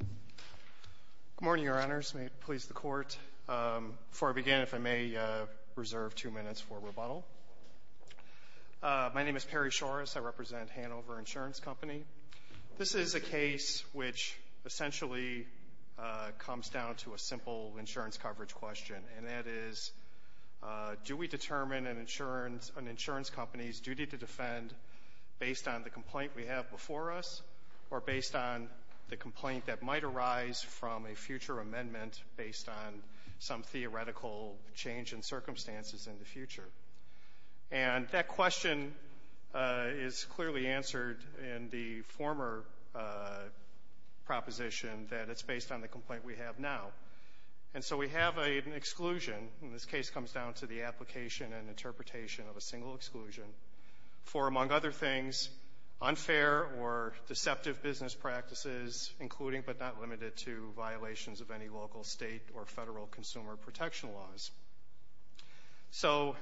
Good morning, Your Honors. May it please the Court, before I begin, if I may reserve two minutes for rebuttal. My name is Perry Shores. I represent Hanover Insurance Company. This is a case which essentially comes down to a simple insurance coverage question, and that is, do we determine an insurance company's duty to defend based on the complaint we have before us or based on the complaint that might arise from a future amendment based on some theoretical change in circumstances in the future? And that question is clearly answered in the former proposition that it's based on the complaint we have now. And so we have an exclusion, and this case comes down to the application and interpretation of a single exclusion, for, among other things, unfair or deceptive business practices, including but not limited to violations of any local, state, or federal consumer protection laws. So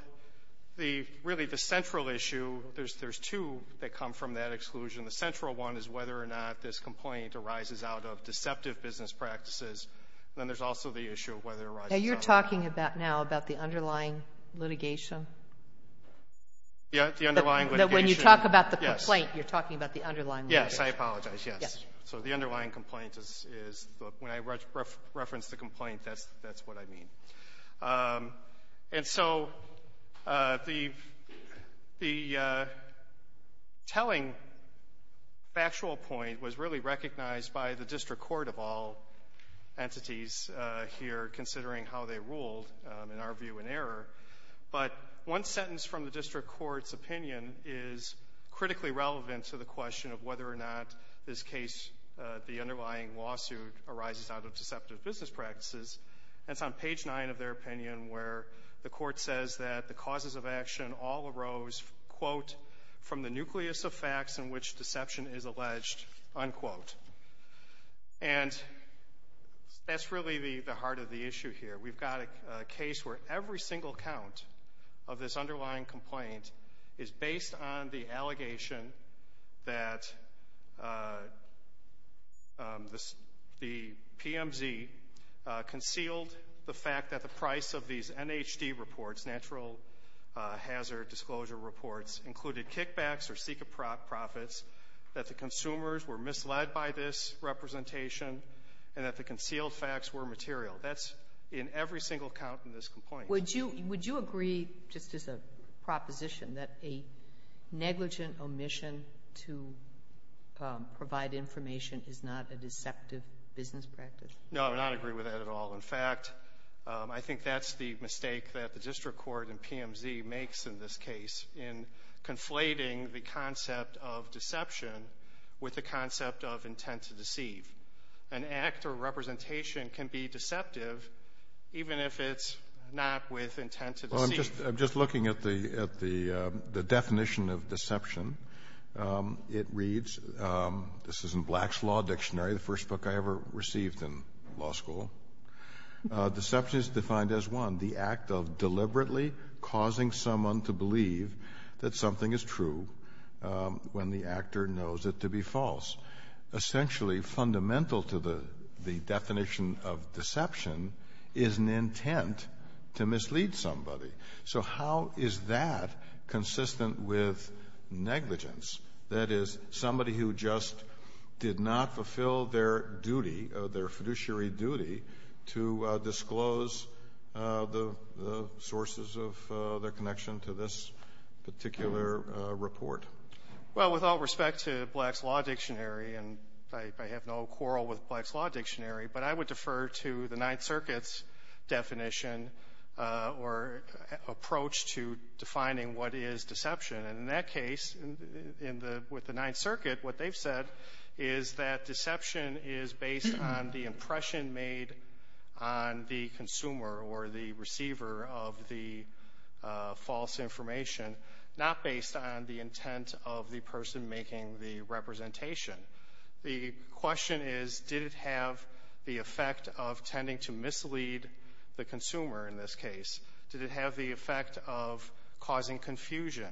really the central issue, there's two that come from that exclusion. The central one is whether or not this complaint arises out of deceptive business practices, and then there's also the issue of whether it arises out of the underlying litigation. Yeah. The underlying litigation. When you talk about the complaint, you're talking about the underlying litigation. Yes. I apologize. Yes. So the underlying complaint is when I reference the complaint, that's what I mean. And so the telling factual point was really recognized by the district court of all entities here considering how they ruled, in our view, in error. But one sentence from the district court's opinion is critically relevant to the question of whether or not this case, the underlying lawsuit, arises out of deceptive business practices. And it's on page 9 of their opinion where the court says that the causes of action all arose, quote, from the nucleus of facts in which deception is alleged, unquote. And that's really the heart of the issue here. We've got a case where every single count of this underlying complaint is based on the allegation that the PMZ concealed the fact that the price of these NHD reports, natural hazard disclosure reports, included kickbacks or secret profits, that the consumers were misled by this representation, and that the concealed facts were material. That's in every single count in this complaint. Would you agree, just as a proposition, that a negligent omission to provide information is not a deceptive business practice? No, I would not agree with that at all. In fact, I think that's the mistake that the district court and PMZ makes in this case in conflating the concept of deception with the concept of intent to deceive. An act or representation can be deceptive even if it's not with intent to deceive. Well, I'm just looking at the definition of deception. It reads, this is in Black's Law Dictionary, the first book I ever received in law school. Deception is defined as, one, the act of deliberately causing someone to believe that something is true when the actor knows it to be false. Essentially, fundamental to the definition of deception is an intent to mislead somebody. So how is that consistent with negligence? That is, somebody who just did not fulfill their duty, their fiduciary duty, to disclose the sources of their connection to this particular report. Well, with all respect to Black's Law Dictionary, and I have no quarrel with Black's approach to defining what is deception. And in that case, with the Ninth Circuit, what they've said is that deception is based on the impression made on the consumer or the receiver of the false information, not based on the intent of the person making the representation. The question is, did it have the effect of tending to mislead the consumer in this case? Did it have the effect of causing confusion?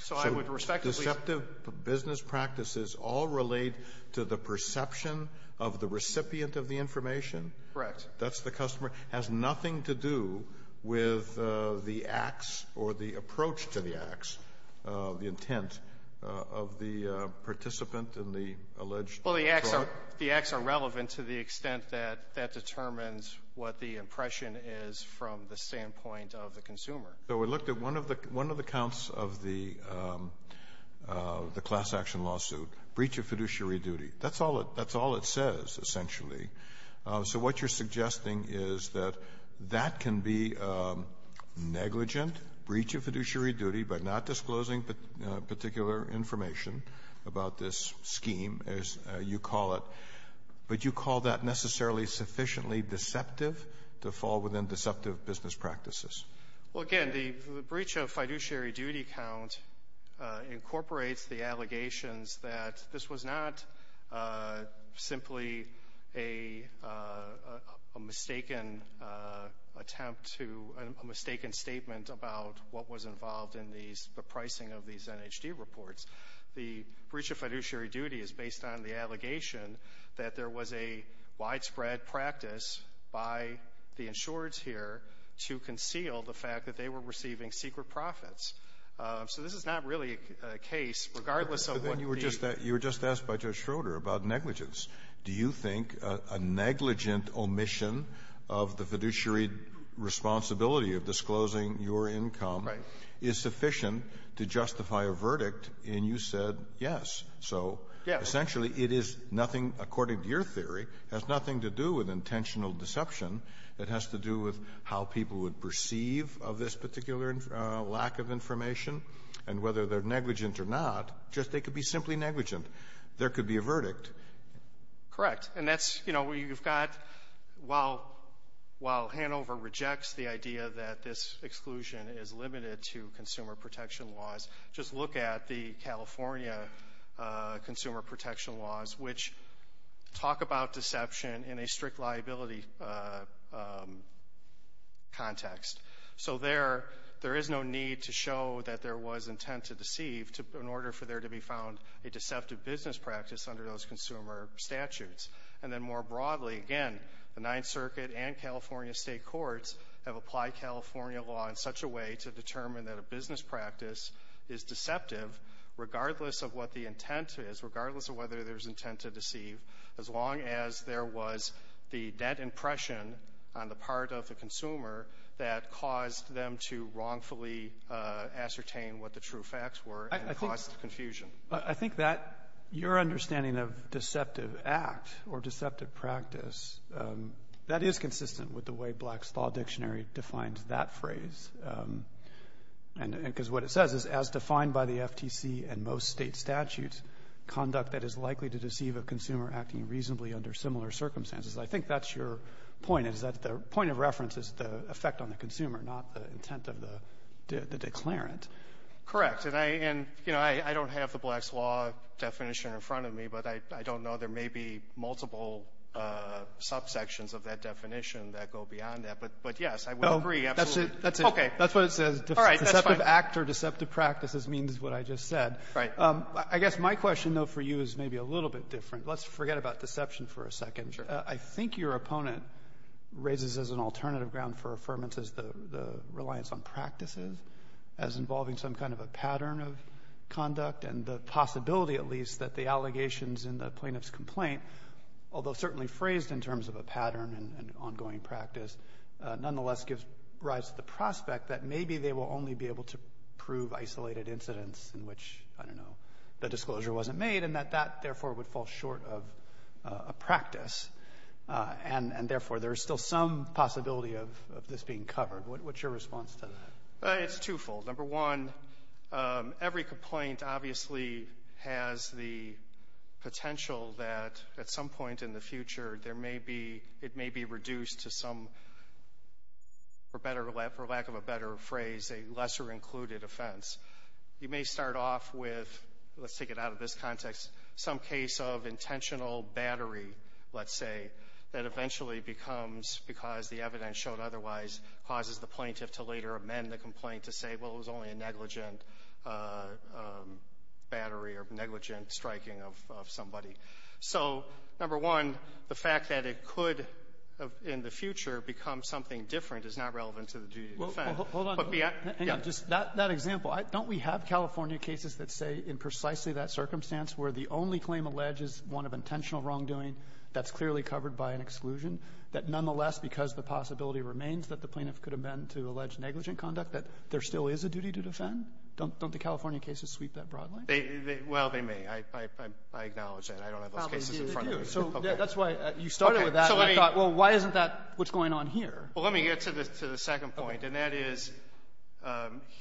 So I would respectfully ---- So deceptive business practices all relate to the perception of the recipient of the information? Correct. That's the customer. Has nothing to do with the acts or the approach to the acts, the intent of the participant in the alleged fraud? Well, the acts are relevant to the extent that that determines what the impression is from the standpoint of the consumer. So we looked at one of the counts of the class action lawsuit, breach of fiduciary duty. That's all it says, essentially. So what you're suggesting is that that can be negligent, breach of fiduciary information about this scheme, as you call it, but you call that necessarily sufficiently deceptive to fall within deceptive business practices? Well, again, the breach of fiduciary duty count incorporates the allegations that this was not simply a mistaken attempt to ---- a mistaken statement about what was involved in the pricing of these NHD reports. The breach of fiduciary duty is based on the allegation that there was a widespread practice by the insurers here to conceal the fact that they were receiving secret profits. So this is not really a case, regardless of what the ---- But then you were just asked by Judge Schroeder about negligence. Do you think a negligent omission of the fiduciary responsibility of disclosing your income is sufficient to justify a verdict? And you said yes. Yes. So essentially it is nothing, according to your theory, has nothing to do with intentional deception. It has to do with how people would perceive of this particular lack of information and whether they're negligent or not. Just they could be simply negligent. There could be a verdict. Correct. And that's, you know, you've got while ---- while Hanover rejects the idea that this exclusion is limited to consumer protection laws, just look at the California consumer protection laws, which talk about deception in a strict liability context. So there is no need to show that there was intent to deceive in order for there to be found a deceptive business practice under those consumer statutes. And then more broadly, again, the Ninth Circuit and California state courts have applied California law in such a way to determine that a business practice is deceptive regardless of what the intent is, regardless of whether there's intent to deceive, as long as there was the dead impression on the part of the consumer that caused them to wrongfully ascertain what the true facts were and caused confusion. I think that your understanding of deceptive act or deceptive practice, that is consistent with the way Black's Law Dictionary defines that phrase. And because what it says is, as defined by the FTC and most State statutes, conduct that is likely to deceive a consumer acting reasonably under similar circumstances. I think that's your point, is that the point of reference is the effect on the consumer, not the intent of the declarant. Correct. And I don't have the Black's Law definition in front of me, but I don't know. There may be multiple subsections of that definition that go beyond that. But, yes, I would agree, absolutely. Okay. That's what it says. Deceptive act or deceptive practices means what I just said. Right. I guess my question, though, for you is maybe a little bit different. Let's forget about deception for a second. Sure. I think your opponent raises as an alternative ground for affirmance is the reliance on practices as involving some kind of a pattern of conduct and the possibility at least that the allegations in the plaintiff's complaint, although certainly phrased in terms of a pattern and ongoing practice, nonetheless gives rise to the prospect that maybe they will only be able to prove isolated incidents in which, I don't know, the disclosure wasn't made and that that, therefore, would fall short of a practice. And, therefore, there is still some possibility of this being covered. What's your response to that? It's twofold. Number one, every complaint obviously has the potential that at some point in the future, there may be, it may be reduced to some, for lack of a better phrase, a lesser included offense. You may start off with, let's take it out of this context, some case of intentional battery, let's say, that eventually becomes because the evidence showed otherwise causes the plaintiff to later amend the complaint to say, well, it was only a negligent battery or negligent striking of somebody. So, number one, the fact that it could, in the future, become something different is not relevant to the duty of defense. But we have to be at the end of that example. Don't we have California cases that say in precisely that circumstance where the only claim alleges one of intentional wrongdoing that's clearly covered by an exclusion, that nonetheless, because the possibility remains that the plaintiff could amend to allege negligent conduct, that there still is a duty to defend? Don't the California cases sweep that broadly? Well, they may. I acknowledge that. I don't have those cases in front of me. So that's why you started with that and thought, well, why isn't that what's going on here? Well, let me get to the second point, and that is,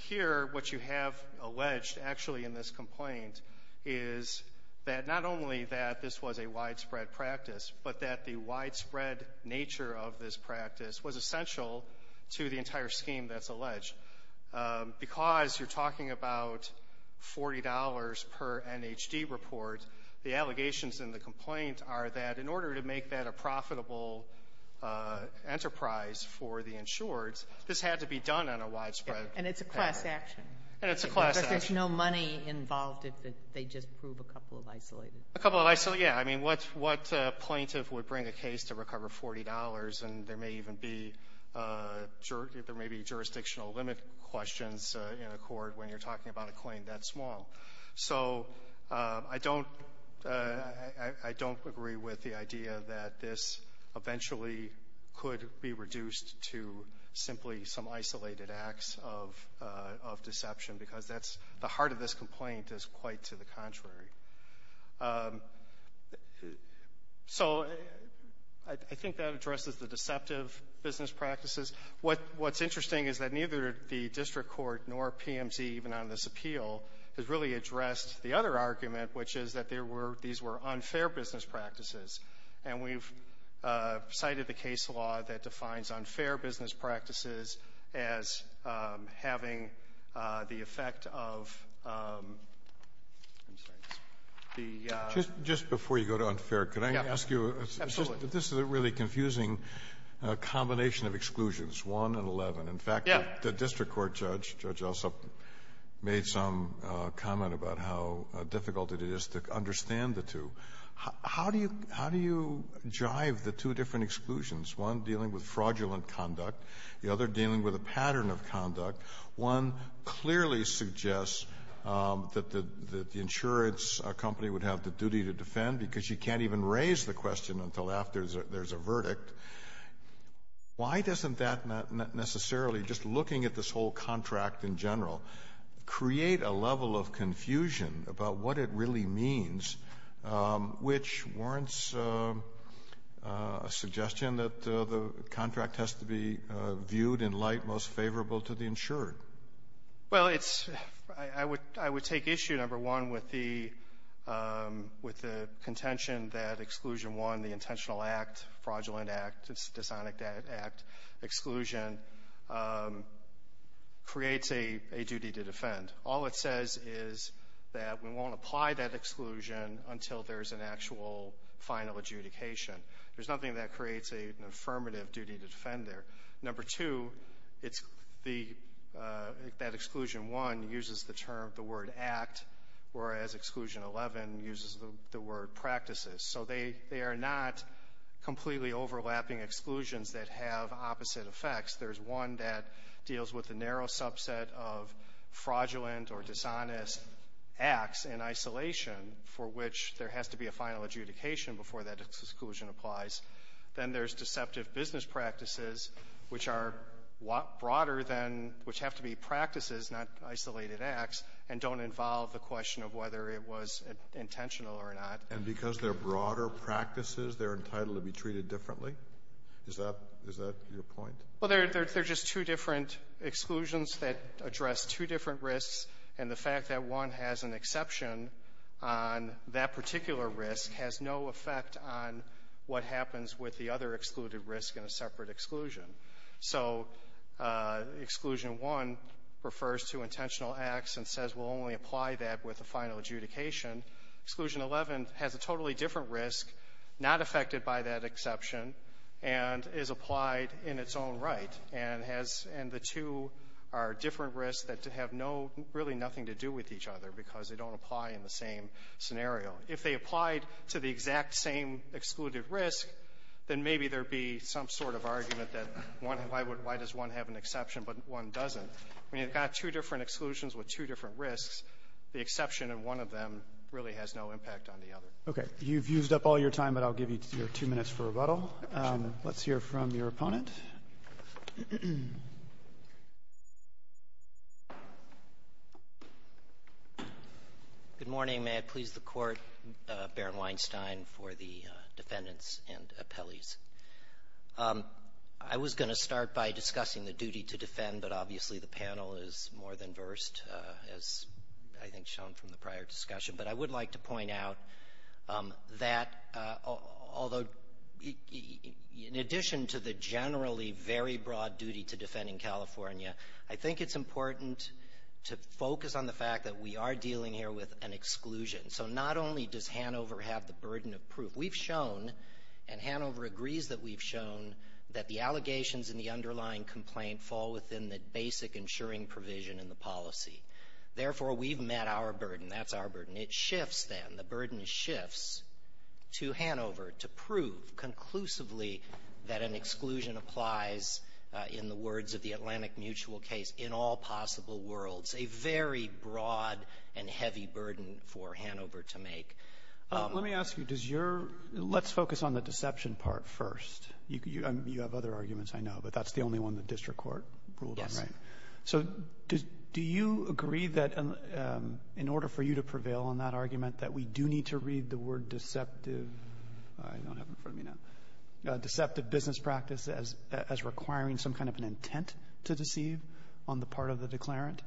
here, what you have alleged, actually, in this complaint is that not only that this was a widespread practice, but that the widespread nature of this practice was essential to the entire scheme that's alleged. Because you're talking about $40 per NHD report, the allegations in the complaint are that in order to make that a profitable enterprise for the insureds, this had to be done on a widespread basis. And it's a class action. And it's a class action. But there's no money involved if they just prove a couple of isolated cases. A couple of isolated, yeah. I mean, what plaintiff would bring a case to recover $40, and there may even be jurisdictional limit questions in a court when you're talking about a claim that small? So I don't agree with the idea that this eventually could be reduced to simply some isolated acts of deception, because the heart of this complaint is quite to the contrary. So I think that addresses the deceptive business practices. What's interesting is that neither the district court nor PMT, even on this appeal, has really addressed the other argument, which is that these were unfair business practices. And we've cited the case law that defines unfair business practices as having the I'm sorry. The ---- Just before you go to unfair, could I ask you a question? Absolutely. This is a really confusing combination of exclusions, 1 and 11. In fact, the district court judge, Judge Alsop, made some comment about how difficult it is to understand the two. How do you jive the two different exclusions, one dealing with fraudulent conduct, the other dealing with a pattern of conduct? One clearly suggests that the insurance company would have the duty to defend, because you can't even raise the question until after there's a verdict. Why doesn't that necessarily, just looking at this whole contract in general, create a level of confusion about what it really means, which warrants a suggestion that the contract has to be viewed in light most favorable to the insured? Well, it's ---- I would take issue, number one, with the contention that Exclusion 1, the intentional act, fraudulent act, dishonest act, exclusion, creates a duty to defend. All it says is that we won't apply that exclusion until there's an actual final adjudication. There's nothing that creates an affirmative duty to defend there. Number two, it's the, that Exclusion 1 uses the term, the word act, whereas Exclusion 11 uses the word practices. So they are not completely overlapping exclusions that have opposite effects. There's one that deals with the narrow subset of fraudulent or dishonest acts in Then there's deceptive business practices, which are broader than, which have to be practices, not isolated acts, and don't involve the question of whether it was intentional or not. And because they're broader practices, they're entitled to be treated differently? Is that, is that your point? Well, they're just two different exclusions that address two different risks. And the fact that one has an exception on that particular risk has no effect on what happens with the other excluded risk in a separate exclusion. So Exclusion 1 refers to intentional acts and says, we'll only apply that with a final adjudication. Exclusion 11 has a totally different risk, not affected by that exception, and is applied in its own right. And has, and the two are different risks that have no, really nothing to do with each other because they don't apply in the same scenario. If they applied to the exact same exclusive risk, then maybe there would be some sort of argument that one, why would, why does one have an exception, but one doesn't. I mean, you've got two different exclusions with two different risks. The exception in one of them really has no impact on the other. Okay. You've used up all your time, but I'll give you your two minutes for rebuttal. Let's hear from your opponent. Good morning. May it please the Court, Baron Weinstein for the defendants and appellees. I was going to start by discussing the duty to defend, but obviously the panel is more than versed, as I think shown from the prior discussion. But I would like to point out that, although, in addition to the generally very broad duty to defend in California, I think it's important to focus on the fact that we are dealing here with an exclusion. So not only does Hanover have the burden of proof, we've shown, and Hanover agrees that we've shown, that the allegations in the underlying complaint fall within the basic insuring provision in the policy. Therefore, we've met our burden. That's our burden. It shifts, then, the burden shifts to Hanover to prove conclusively that an exclusion applies, in the words of the Atlantic Mutual case, in all possible worlds. A very broad and heavy burden for Hanover to make. Let me ask you, does your — let's focus on the deception part first. You have other arguments, I know, but that's the only one the district court ruled on, right? Yes. So do you agree that, in order for you to prevail on that argument, that we do need to read the word deceptive — I don't have it in front of me now — deceptive business practice as requiring some kind of an intent to deceive on the part of the declarant?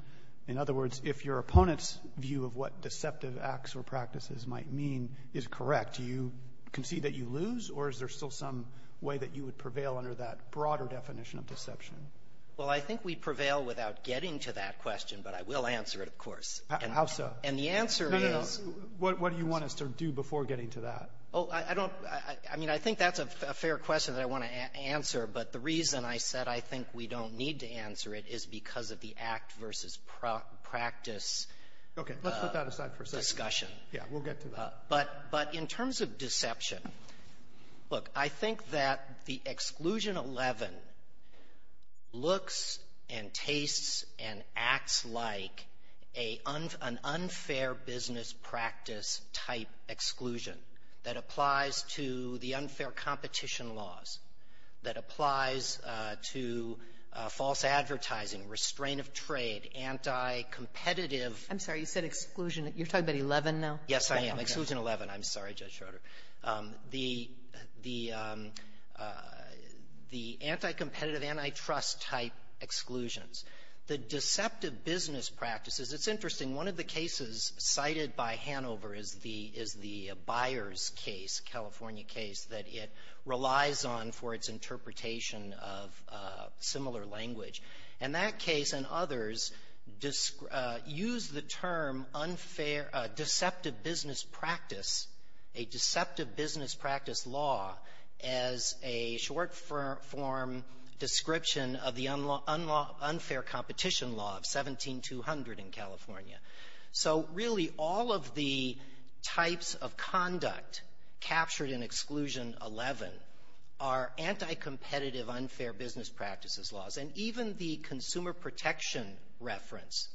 In other words, if your opponent's view of what deceptive acts or practices might mean is correct, do you concede that you lose, or is there still some way that you would prevail under that broader definition of deception? Well, I think we'd prevail without getting to that question, but I will answer it, of course. How so? And the answer is — No, no, no. What do you want us to do before getting to that? Oh, I don't — I mean, I think that's a fair question that I want to answer, but the reason I said I think we don't need to answer it is because of the act-versus-practice discussion. Okay. Let's put that aside for a second. Yeah. We'll get to that. But — but in terms of deception, look, I think that the Exclusion 11 looks and tastes and acts like a — an unfair business practice-type exclusion that applies to the unfair competition laws, that applies to false advertising, restraint of trade, anti-competitive I'm sorry. You said exclusion. You're talking about 11 now? Yes, I am. Exclusion 11. I'm sorry, Judge Schroeder. The — the anti-competitive, anti-trust-type exclusions, the deceptive business practices, it's interesting. One of the cases cited by Hanover is the — is the Byers case, California case, that it relies on for its interpretation of similar language. And that case and others use the term unfair — deceptive business practice, a deceptive business practice law, as a short-form description of the unfair competition law of 17200 in California. So really, all of the types of conduct captured in Exclusion 11 are anti-competitive, unfair business practices laws. And even the consumer protection reference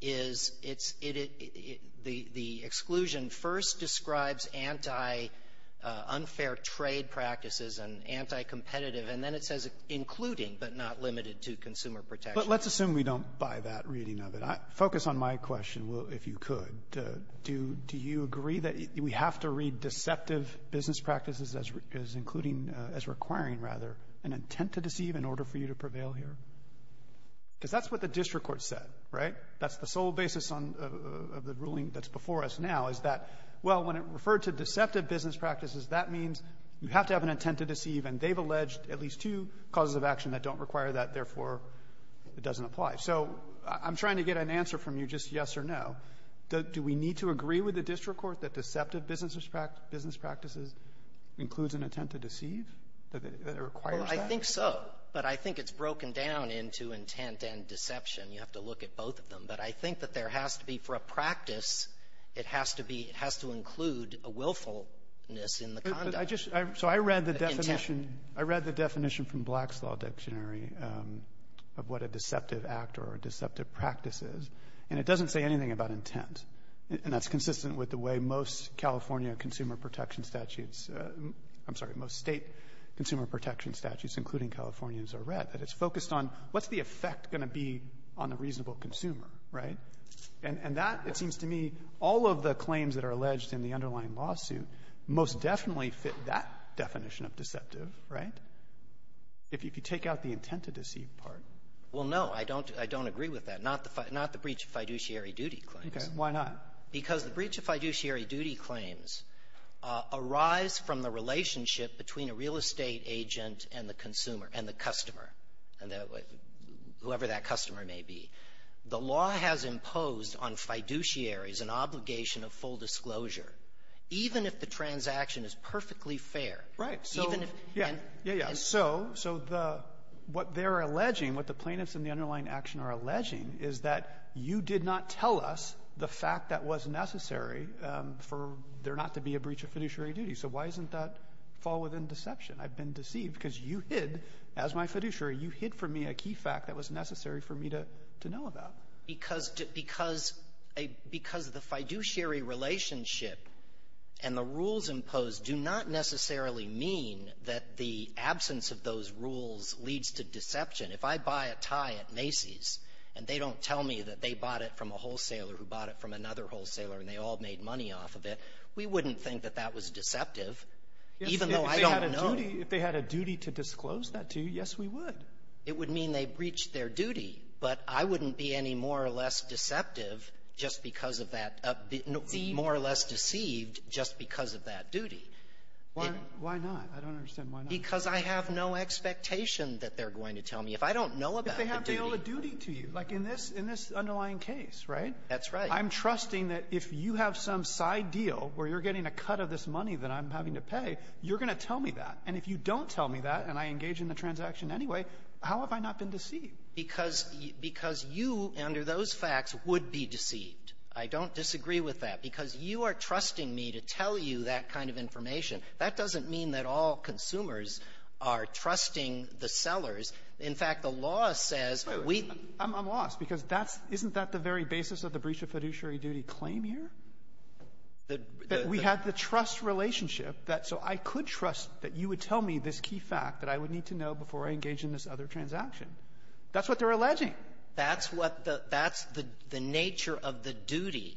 is — it's — it — the — the exclusion first describes anti-unfair trade practices and anti-competitive, and then it says including, but not limited to, consumer protection. But let's assume we don't buy that reading of it. I — focus on my question, if you could. Do — do you agree that we have to read deceptive business practices as — as including — as requiring, rather, an intent to deceive in order for you to prevail here? Because that's what the district court said, right? That's the sole basis on — of the ruling that's before us now, is that, well, when it referred to deceptive business practices, that means you have to have an intent to deceive, and they've alleged at least two causes of action that don't require that, therefore, it doesn't apply. So I'm trying to get an answer from you, just yes or no. Do — do we need to agree with the district court that deceptive business — business practices includes an intent to deceive, that it requires that? Well, I think so. But I think it's broken down into intent and deception. You have to look at both of them. But I think that there has to be, for a practice, it has to be — it has to include a willfulness in the conduct. But I just — so I read the definition. I read the definition from Black's Law Dictionary of what a deceptive act or a deceptive practice is, and it doesn't say anything about intent. And that's consistent with the way most California consumer protection statutes — I'm sorry, most State consumer protection statutes, including California's, are read, that it's focused on what's the effect going to be on a reasonable consumer, right? And that, it seems to me, all of the claims that are alleged in the underlying lawsuit most definitely fit that definition of deceptive, right? If you take out the intent to deceive part. Well, no. I don't — I don't agree with that. Not the — not the breach of fiduciary duty claims. Okay. Why not? Because the breach of fiduciary duty claims arise from the relationship between a real estate agent and the consumer — and the customer, whoever that customer may be. The law has imposed on fiduciaries an obligation of full disclosure, even if the transaction is perfectly fair. Right. So even if — Yeah. Yeah, yeah. So — so the — what they're alleging, what the plaintiffs in the underlying action are alleging is that you did not tell us the fact that was necessary for there not to be a breach of fiduciary duty. So why isn't that fall within deception? I've been deceived because you hid, as my fiduciary, you hid from me a key fact that was necessary for me to — to know about. Because — because — because the fiduciary relationship and the rules imposed do not necessarily mean that the absence of those rules leads to deception. If I buy a tie at Macy's and they don't tell me that they bought it from a wholesaler who bought it from another wholesaler and they all made money off of it, we wouldn't think that that was deceptive, even though I don't know — If they had a duty — if they had a duty to disclose that to you, yes, we would. It would mean they breached their duty, but I wouldn't be any more or less deceptive just because of that — more or less deceived just because of that duty. Why — why not? I don't understand why not. Because I have no expectation that they're going to tell me. If I don't know about the duty — If they have to be able to duty to you. Like in this — in this underlying case, right? That's right. I'm trusting that if you have some side deal where you're getting a cut of this money that I'm having to pay, you're going to tell me that. And if you don't tell me that and I engage in the transaction anyway, how have I not been deceived? Because — because you, under those facts, would be deceived. I don't disagree with that. Because you are trusting me to tell you that kind of information. That doesn't mean that all consumers are trusting the sellers. In fact, the law says we — I'm lost, because that's — isn't that the very basis of the breach of fiduciary duty claim here? The — So I could trust that you would tell me this key fact that I would need to know before I engage in this other transaction. That's what they're alleging. That's what the — that's the — the nature of the duty.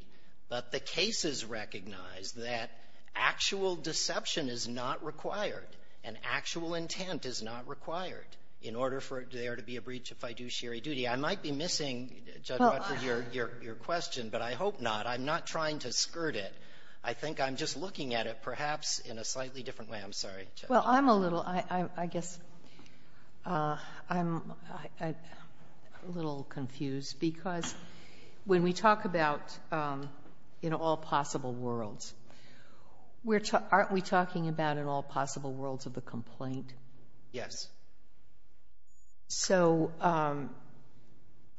But the cases recognize that actual deception is not required and actual intent is not required in order for there to be a breach of fiduciary duty. I might be missing, Judge Rutter, your — your question, but I hope not. I'm not trying to skirt it. I think I'm just looking at it, perhaps, in a slightly different way. I'm sorry. Well, I'm a little — I — I guess I'm a little confused, because when we talk about in all possible worlds, aren't we talking about in all possible worlds of the complaint? Yes. So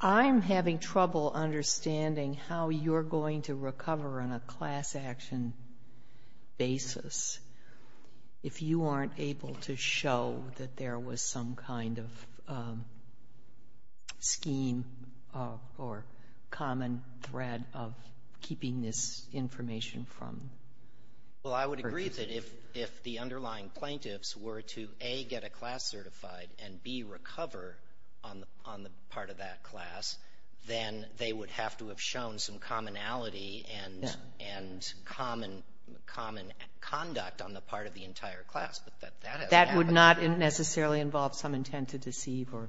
I'm having trouble understanding how you're going to recover on a class-action basis if you aren't able to show that there was some kind of scheme or common thread of keeping this information from — Well, I would agree that if — if the underlying plaintiffs were to, A, get a class certified and, B, recover on the — on the part of that class, then they would have to have shown some commonality and — and common — common conduct on the part of the entire class. But that hasn't happened. That would not necessarily involve some intent to deceive or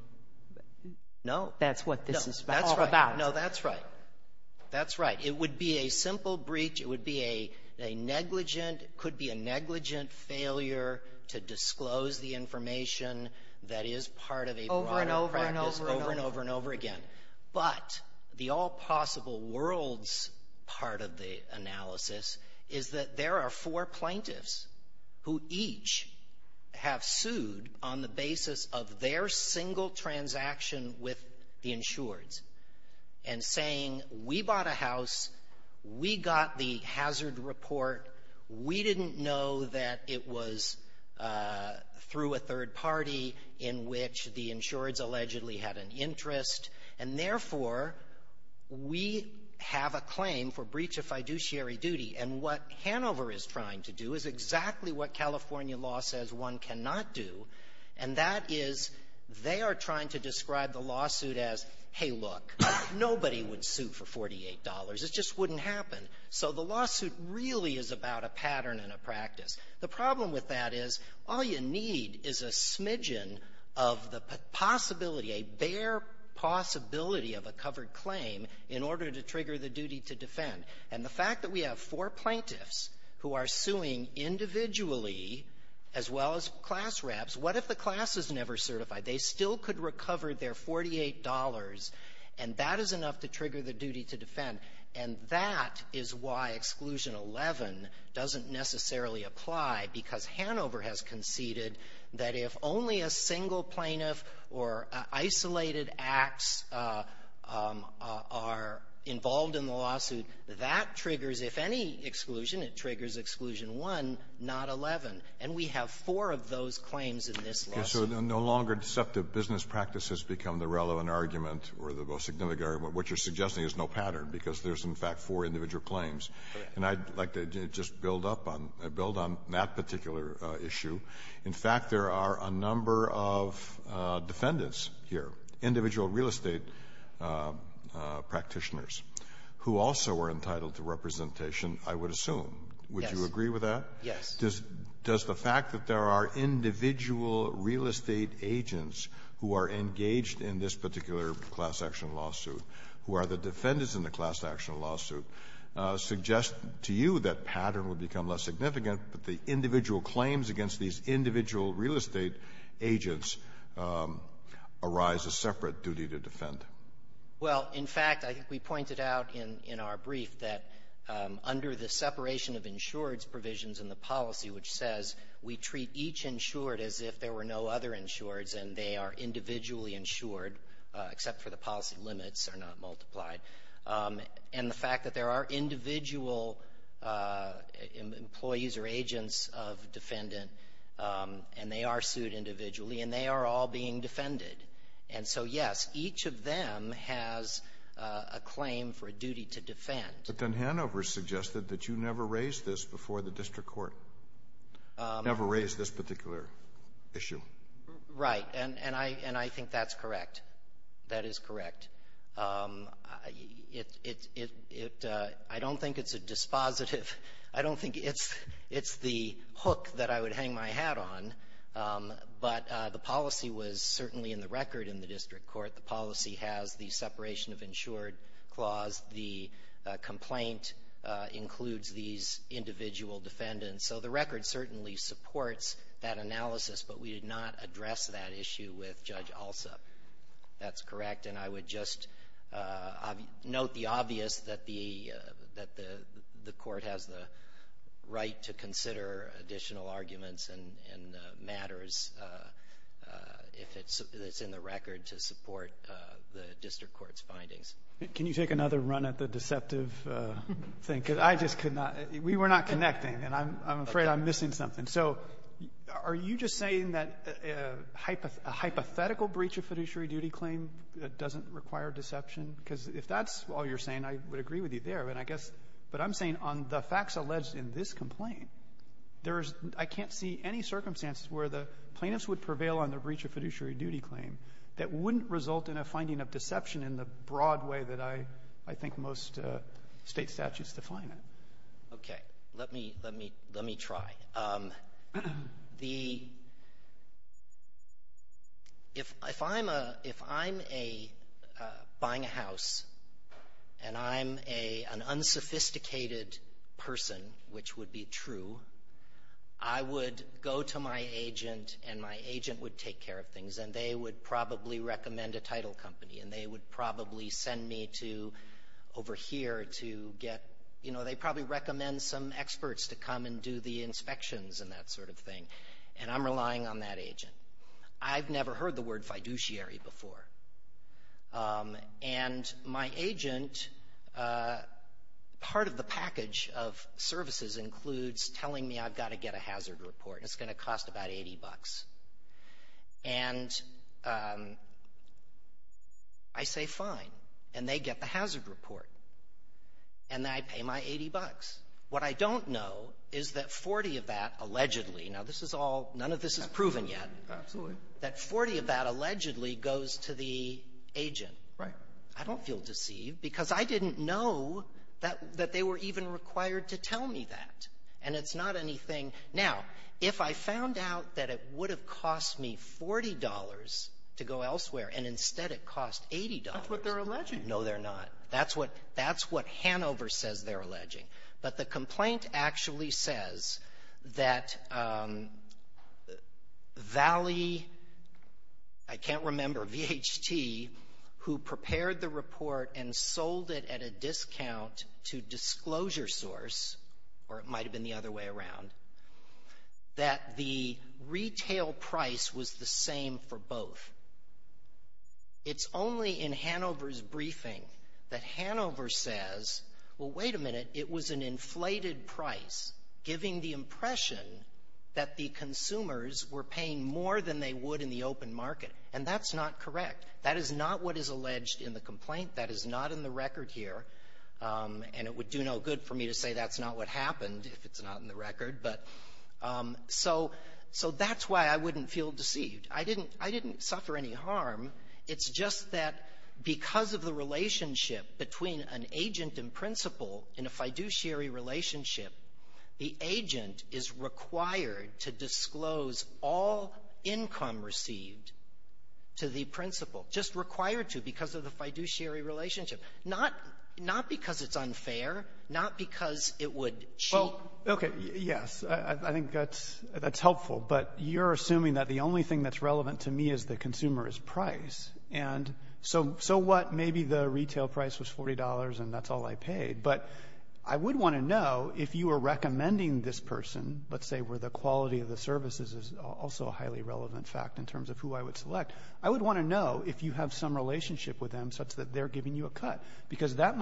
— No. That's what this is all about. No, that's right. That's right. It would be a simple breach. It would be a — a negligent — could be a negligent failure to disclose the information that is part of a broader practice over and over and over again. But the all-possible-worlds part of the analysis is that there are four plaintiffs who each have sued on the basis of their single transaction with the insureds and saying, we bought a house, we got the hazard report, we didn't know that it was through a third party in which the insureds allegedly had an interest, and therefore, we have a claim for breach of fiduciary duty. And what Hanover is trying to do is exactly what California law says one cannot do, and that is they are trying to describe the lawsuit as, hey, look, nobody would sue for $48. It just wouldn't happen. So the lawsuit really is about a pattern and a practice. The problem with that is all you need is a smidgen of the possibility, a bare possibility of a covered claim in order to trigger the duty to defend. And the fact that we have four plaintiffs who are suing individually, as well as class grabs, what if the class is never certified? They still could recover their $48, and that is enough to trigger the duty to defend. And that is why Exclusion 11 doesn't necessarily apply, because Hanover has conceded that if only a single plaintiff or isolated acts are involved in the lawsuit, that triggers, if any exclusion, it triggers Exclusion 1, not 11. And we have four of those claims in the lawsuit So no longer deceptive business practices become the relevant argument or the most significant argument. What you're suggesting is no pattern, because there's, in fact, four individual claims. And I'd like to just build up on that particular issue. In fact, there are a number of defendants here, individual real estate practitioners, who also are entitled to representation, I would assume. Would you agree with that? Yes. Does the fact that there are individual real estate agents who are engaged in this particular class-action lawsuit, who are the defendants in the class-action lawsuit, suggest to you that pattern would become less significant, but the individual claims against these individual real estate agents arise a separate duty to defend? Well, in fact, I think we pointed out in our brief that under the separation of insureds provisions in the policy, which says we treat each insured as if there were no other insureds and they are individually insured, except for the policy limits are not multiplied. And the fact that there are individual employees or agents of defendant, and they are sued individually, and they are all being defended. And so, yes, each of them has a claim for a duty to defend. But then Hanover suggested that you never raised this before the district court. Never raised this particular issue. Right. And I think that's correct. That is correct. It's the hook that I would hang my hat on, but the policy was certainly in the record in the district court. The policy has the separation of insured clause. The complaint includes these individual defendants. So the record certainly supports that analysis, but we did not address that issue with Judge Alsup. That's correct. And I would just note the obvious that the court has the right to consider additional arguments and matters if it's in the record to support the district court's findings. Can you take another run at the deceptive thing? Because I just could not. We were not connecting, and I'm afraid I'm missing something. So are you just saying that a hypothetical breach of fiduciary duty claim doesn't require deception? Because if that's all you're saying, I would agree with you there. And I guess what I'm saying, on the facts alleged in this complaint, there is no ‑‑ I can't see any circumstances where the plaintiffs would prevail on the breach of fiduciary duty claim that wouldn't result in a finding of deception in the broad way that I think most State statutes define it. Okay. Let me try. The ‑‑ if I'm a ‑‑ if I'm a ‑‑ buying a house, and I'm a ‑‑ an unsophisticated person, which would be true, I would go to my agent, and my agent would take care of things, and they would probably recommend a title company, and they would probably send me to over here to get ‑‑ you know, they probably recommend some experts to come and do the inspections and that sort of thing. And I'm relying on that agent. I've never heard the word fiduciary before. And my agent, part of the package of services includes telling me I've got to get a hazard report, and it's going to cost about 80 bucks. And I say fine, and they get the hazard report, and then I pay my 80 bucks. What I don't know is that 40 of that allegedly ‑‑ now, this is all ‑‑ none of this is proven yet. Absolutely. That 40 of that allegedly goes to the agent. Right. I don't feel deceived, because I didn't know that they were even required to tell me that. And it's not anything ‑‑ now, if I found out that it would have cost me $40 to go elsewhere, and instead it cost $80. That's what they're alleging. No, they're not. That's what ‑‑ that's what Hanover says they're alleging. But the complaint actually says that Valley, I can't remember, VHT, who prepared the report and sold it at a discount to Disclosure Source, or it might have been the other way around, that the retail price was the same for both. It's only in Hanover's briefing that Hanover says, well, wait a minute, it was an inflated price, giving the impression that the consumers were paying more than they would in the open market. And that's not correct. That is not what is alleged in the complaint. That is not in the record here, and it would do no good for me to say that's not what happened if it's not in the record. But so that's why I wouldn't feel deceived. I didn't ‑‑ I didn't suffer any harm. It's just that because of the relationship between an agent and principal in a fiduciary relationship, the agent is required to disclose all income received to the principal, just required to because of the fiduciary relationship, not because it's unfair, not because it would cheat. Okay, yes, I think that's helpful, but you're assuming that the only thing that's relevant to me as the consumer is price. And so what, maybe the retail price was $40 and that's all I paid, but I would want to know if you were recommending this person, let's say where the quality of the services is also a highly relevant fact in terms of who I would select, I would want to know if you have some relationship with them such that they're giving you a cut, because that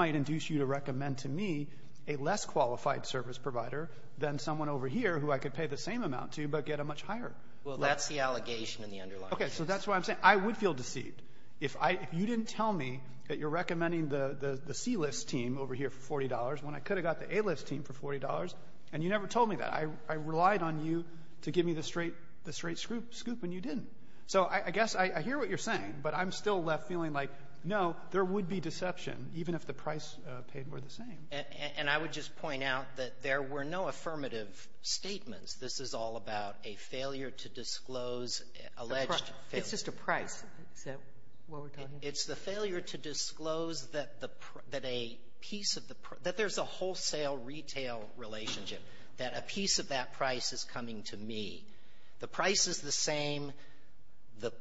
someone over here who I could pay the same amount to, but get a much higher. Well, that's the allegation in the underlying case. Okay, so that's what I'm saying. I would feel deceived if you didn't tell me that you're recommending the C-list team over here for $40 when I could have got the A-list team for $40, and you never told me that. I relied on you to give me the straight scoop, and you didn't. So I guess I hear what you're saying, but I'm still left feeling like, no, there would be deception, even if the price paid were the same. And I would just point out that there were no affirmative statements. This is all about a failure to disclose alleged failure. It's just a price. Is that what we're talking about? It's the failure to disclose that a piece of the price — that there's a wholesale retail relationship, that a piece of that price is coming to me. The price is the same. The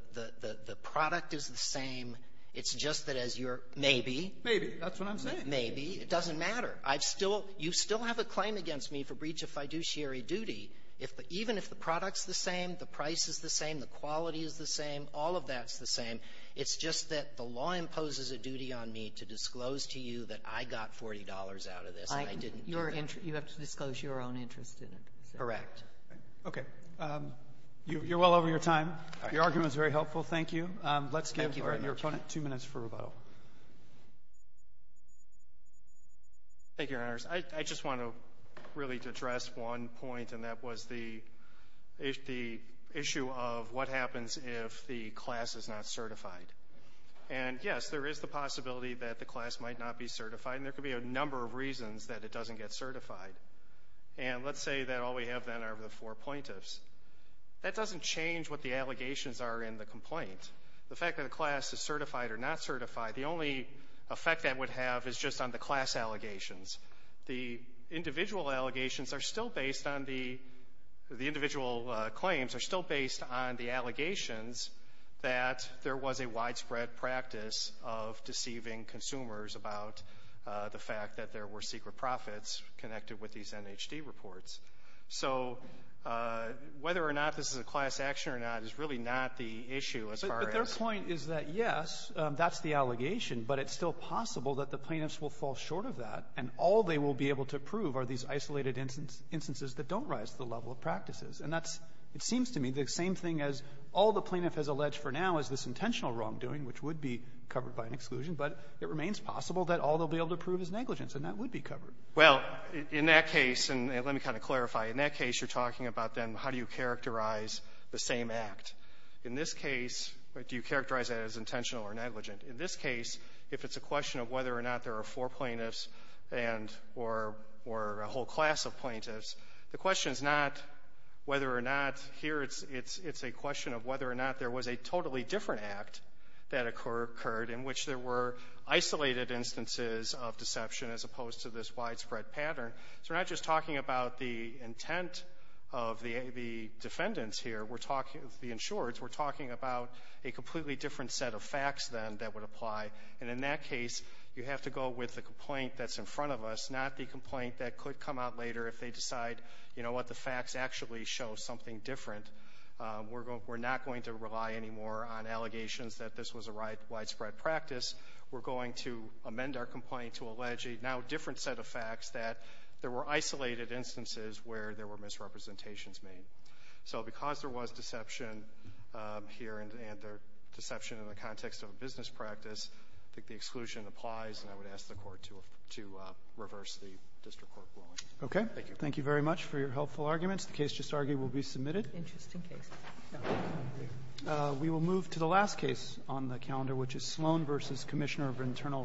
product is the same. It's just that as your maybe. Maybe. That's what I'm saying. Maybe. It doesn't matter. I've still — you still have a claim against me for breach of fiduciary duty if the — even if the product's the same, the price is the same, the quality is the same, all of that's the same. It's just that the law imposes a duty on me to disclose to you that I got $40 out of this, and I didn't do that. You have to disclose your own interest in it. Correct. Okay. You're well over your time. Your argument is very helpful. Thank you. Let's give your opponent two minutes for rebuttal. Thank you, Your Honors. I just want to really address one point, and that was the issue of what happens if the class is not certified. And yes, there is the possibility that the class might not be certified, and there could be a number of reasons that it doesn't get certified. And let's say that all we have, then, are the four plaintiffs. That doesn't change what the allegations are in the complaint. The fact that a class is certified or not certified, the only effect that would have is just on the class allegations. The individual allegations are still based on the — the individual claims are still based on the allegations that there was a widespread practice of deceiving consumers about the fact that there were secret profits connected with these NHD reports. So whether or not this is a class action or not is really not the issue as far as — But their point is that, yes, that's the allegation, but it's still possible that the plaintiffs will fall short of that, and all they will be able to prove are these isolated instances that don't rise to the level of practices. And that's, it seems to me, the same thing as all the plaintiff has alleged for now is this intentional wrongdoing, which would be covered by an exclusion, but it remains possible that all they'll be able to prove is negligence, and that would be covered. Well, in that case, and let me kind of clarify, in that case, you're talking about then how do you characterize the same act. In this case, do you characterize that as intentional or negligent? In this case, if it's a question of whether or not there are four plaintiffs and — or a whole class of plaintiffs, the question is not whether or not here it's a question of whether or not there was a totally different act that occurred in which there were isolated instances of deception as opposed to this widespread pattern. So we're not just talking about the intent of the defendants here. We're talking, the insurers, we're talking about a completely different set of facts then that would apply, and in that case, you have to go with the complaint that's in front of us, not the complaint that could come out later if they decide, you know what, the facts actually show something different. We're not going to rely anymore on allegations that this was a widespread practice. We're going to amend our complaint to allege a now different set of facts that there were isolated instances where there were misrepresentations made. So because there was deception here and there — deception in the context of a business practice, I think the exclusion applies, and I would ask the Court to reverse the district court ruling. Thank you. Thank you very much for your helpful arguments. The case just argued will be submitted. Interesting case. We will move to the last case on the calendar, which is Sloan v. Commissioner of Internal Revenue.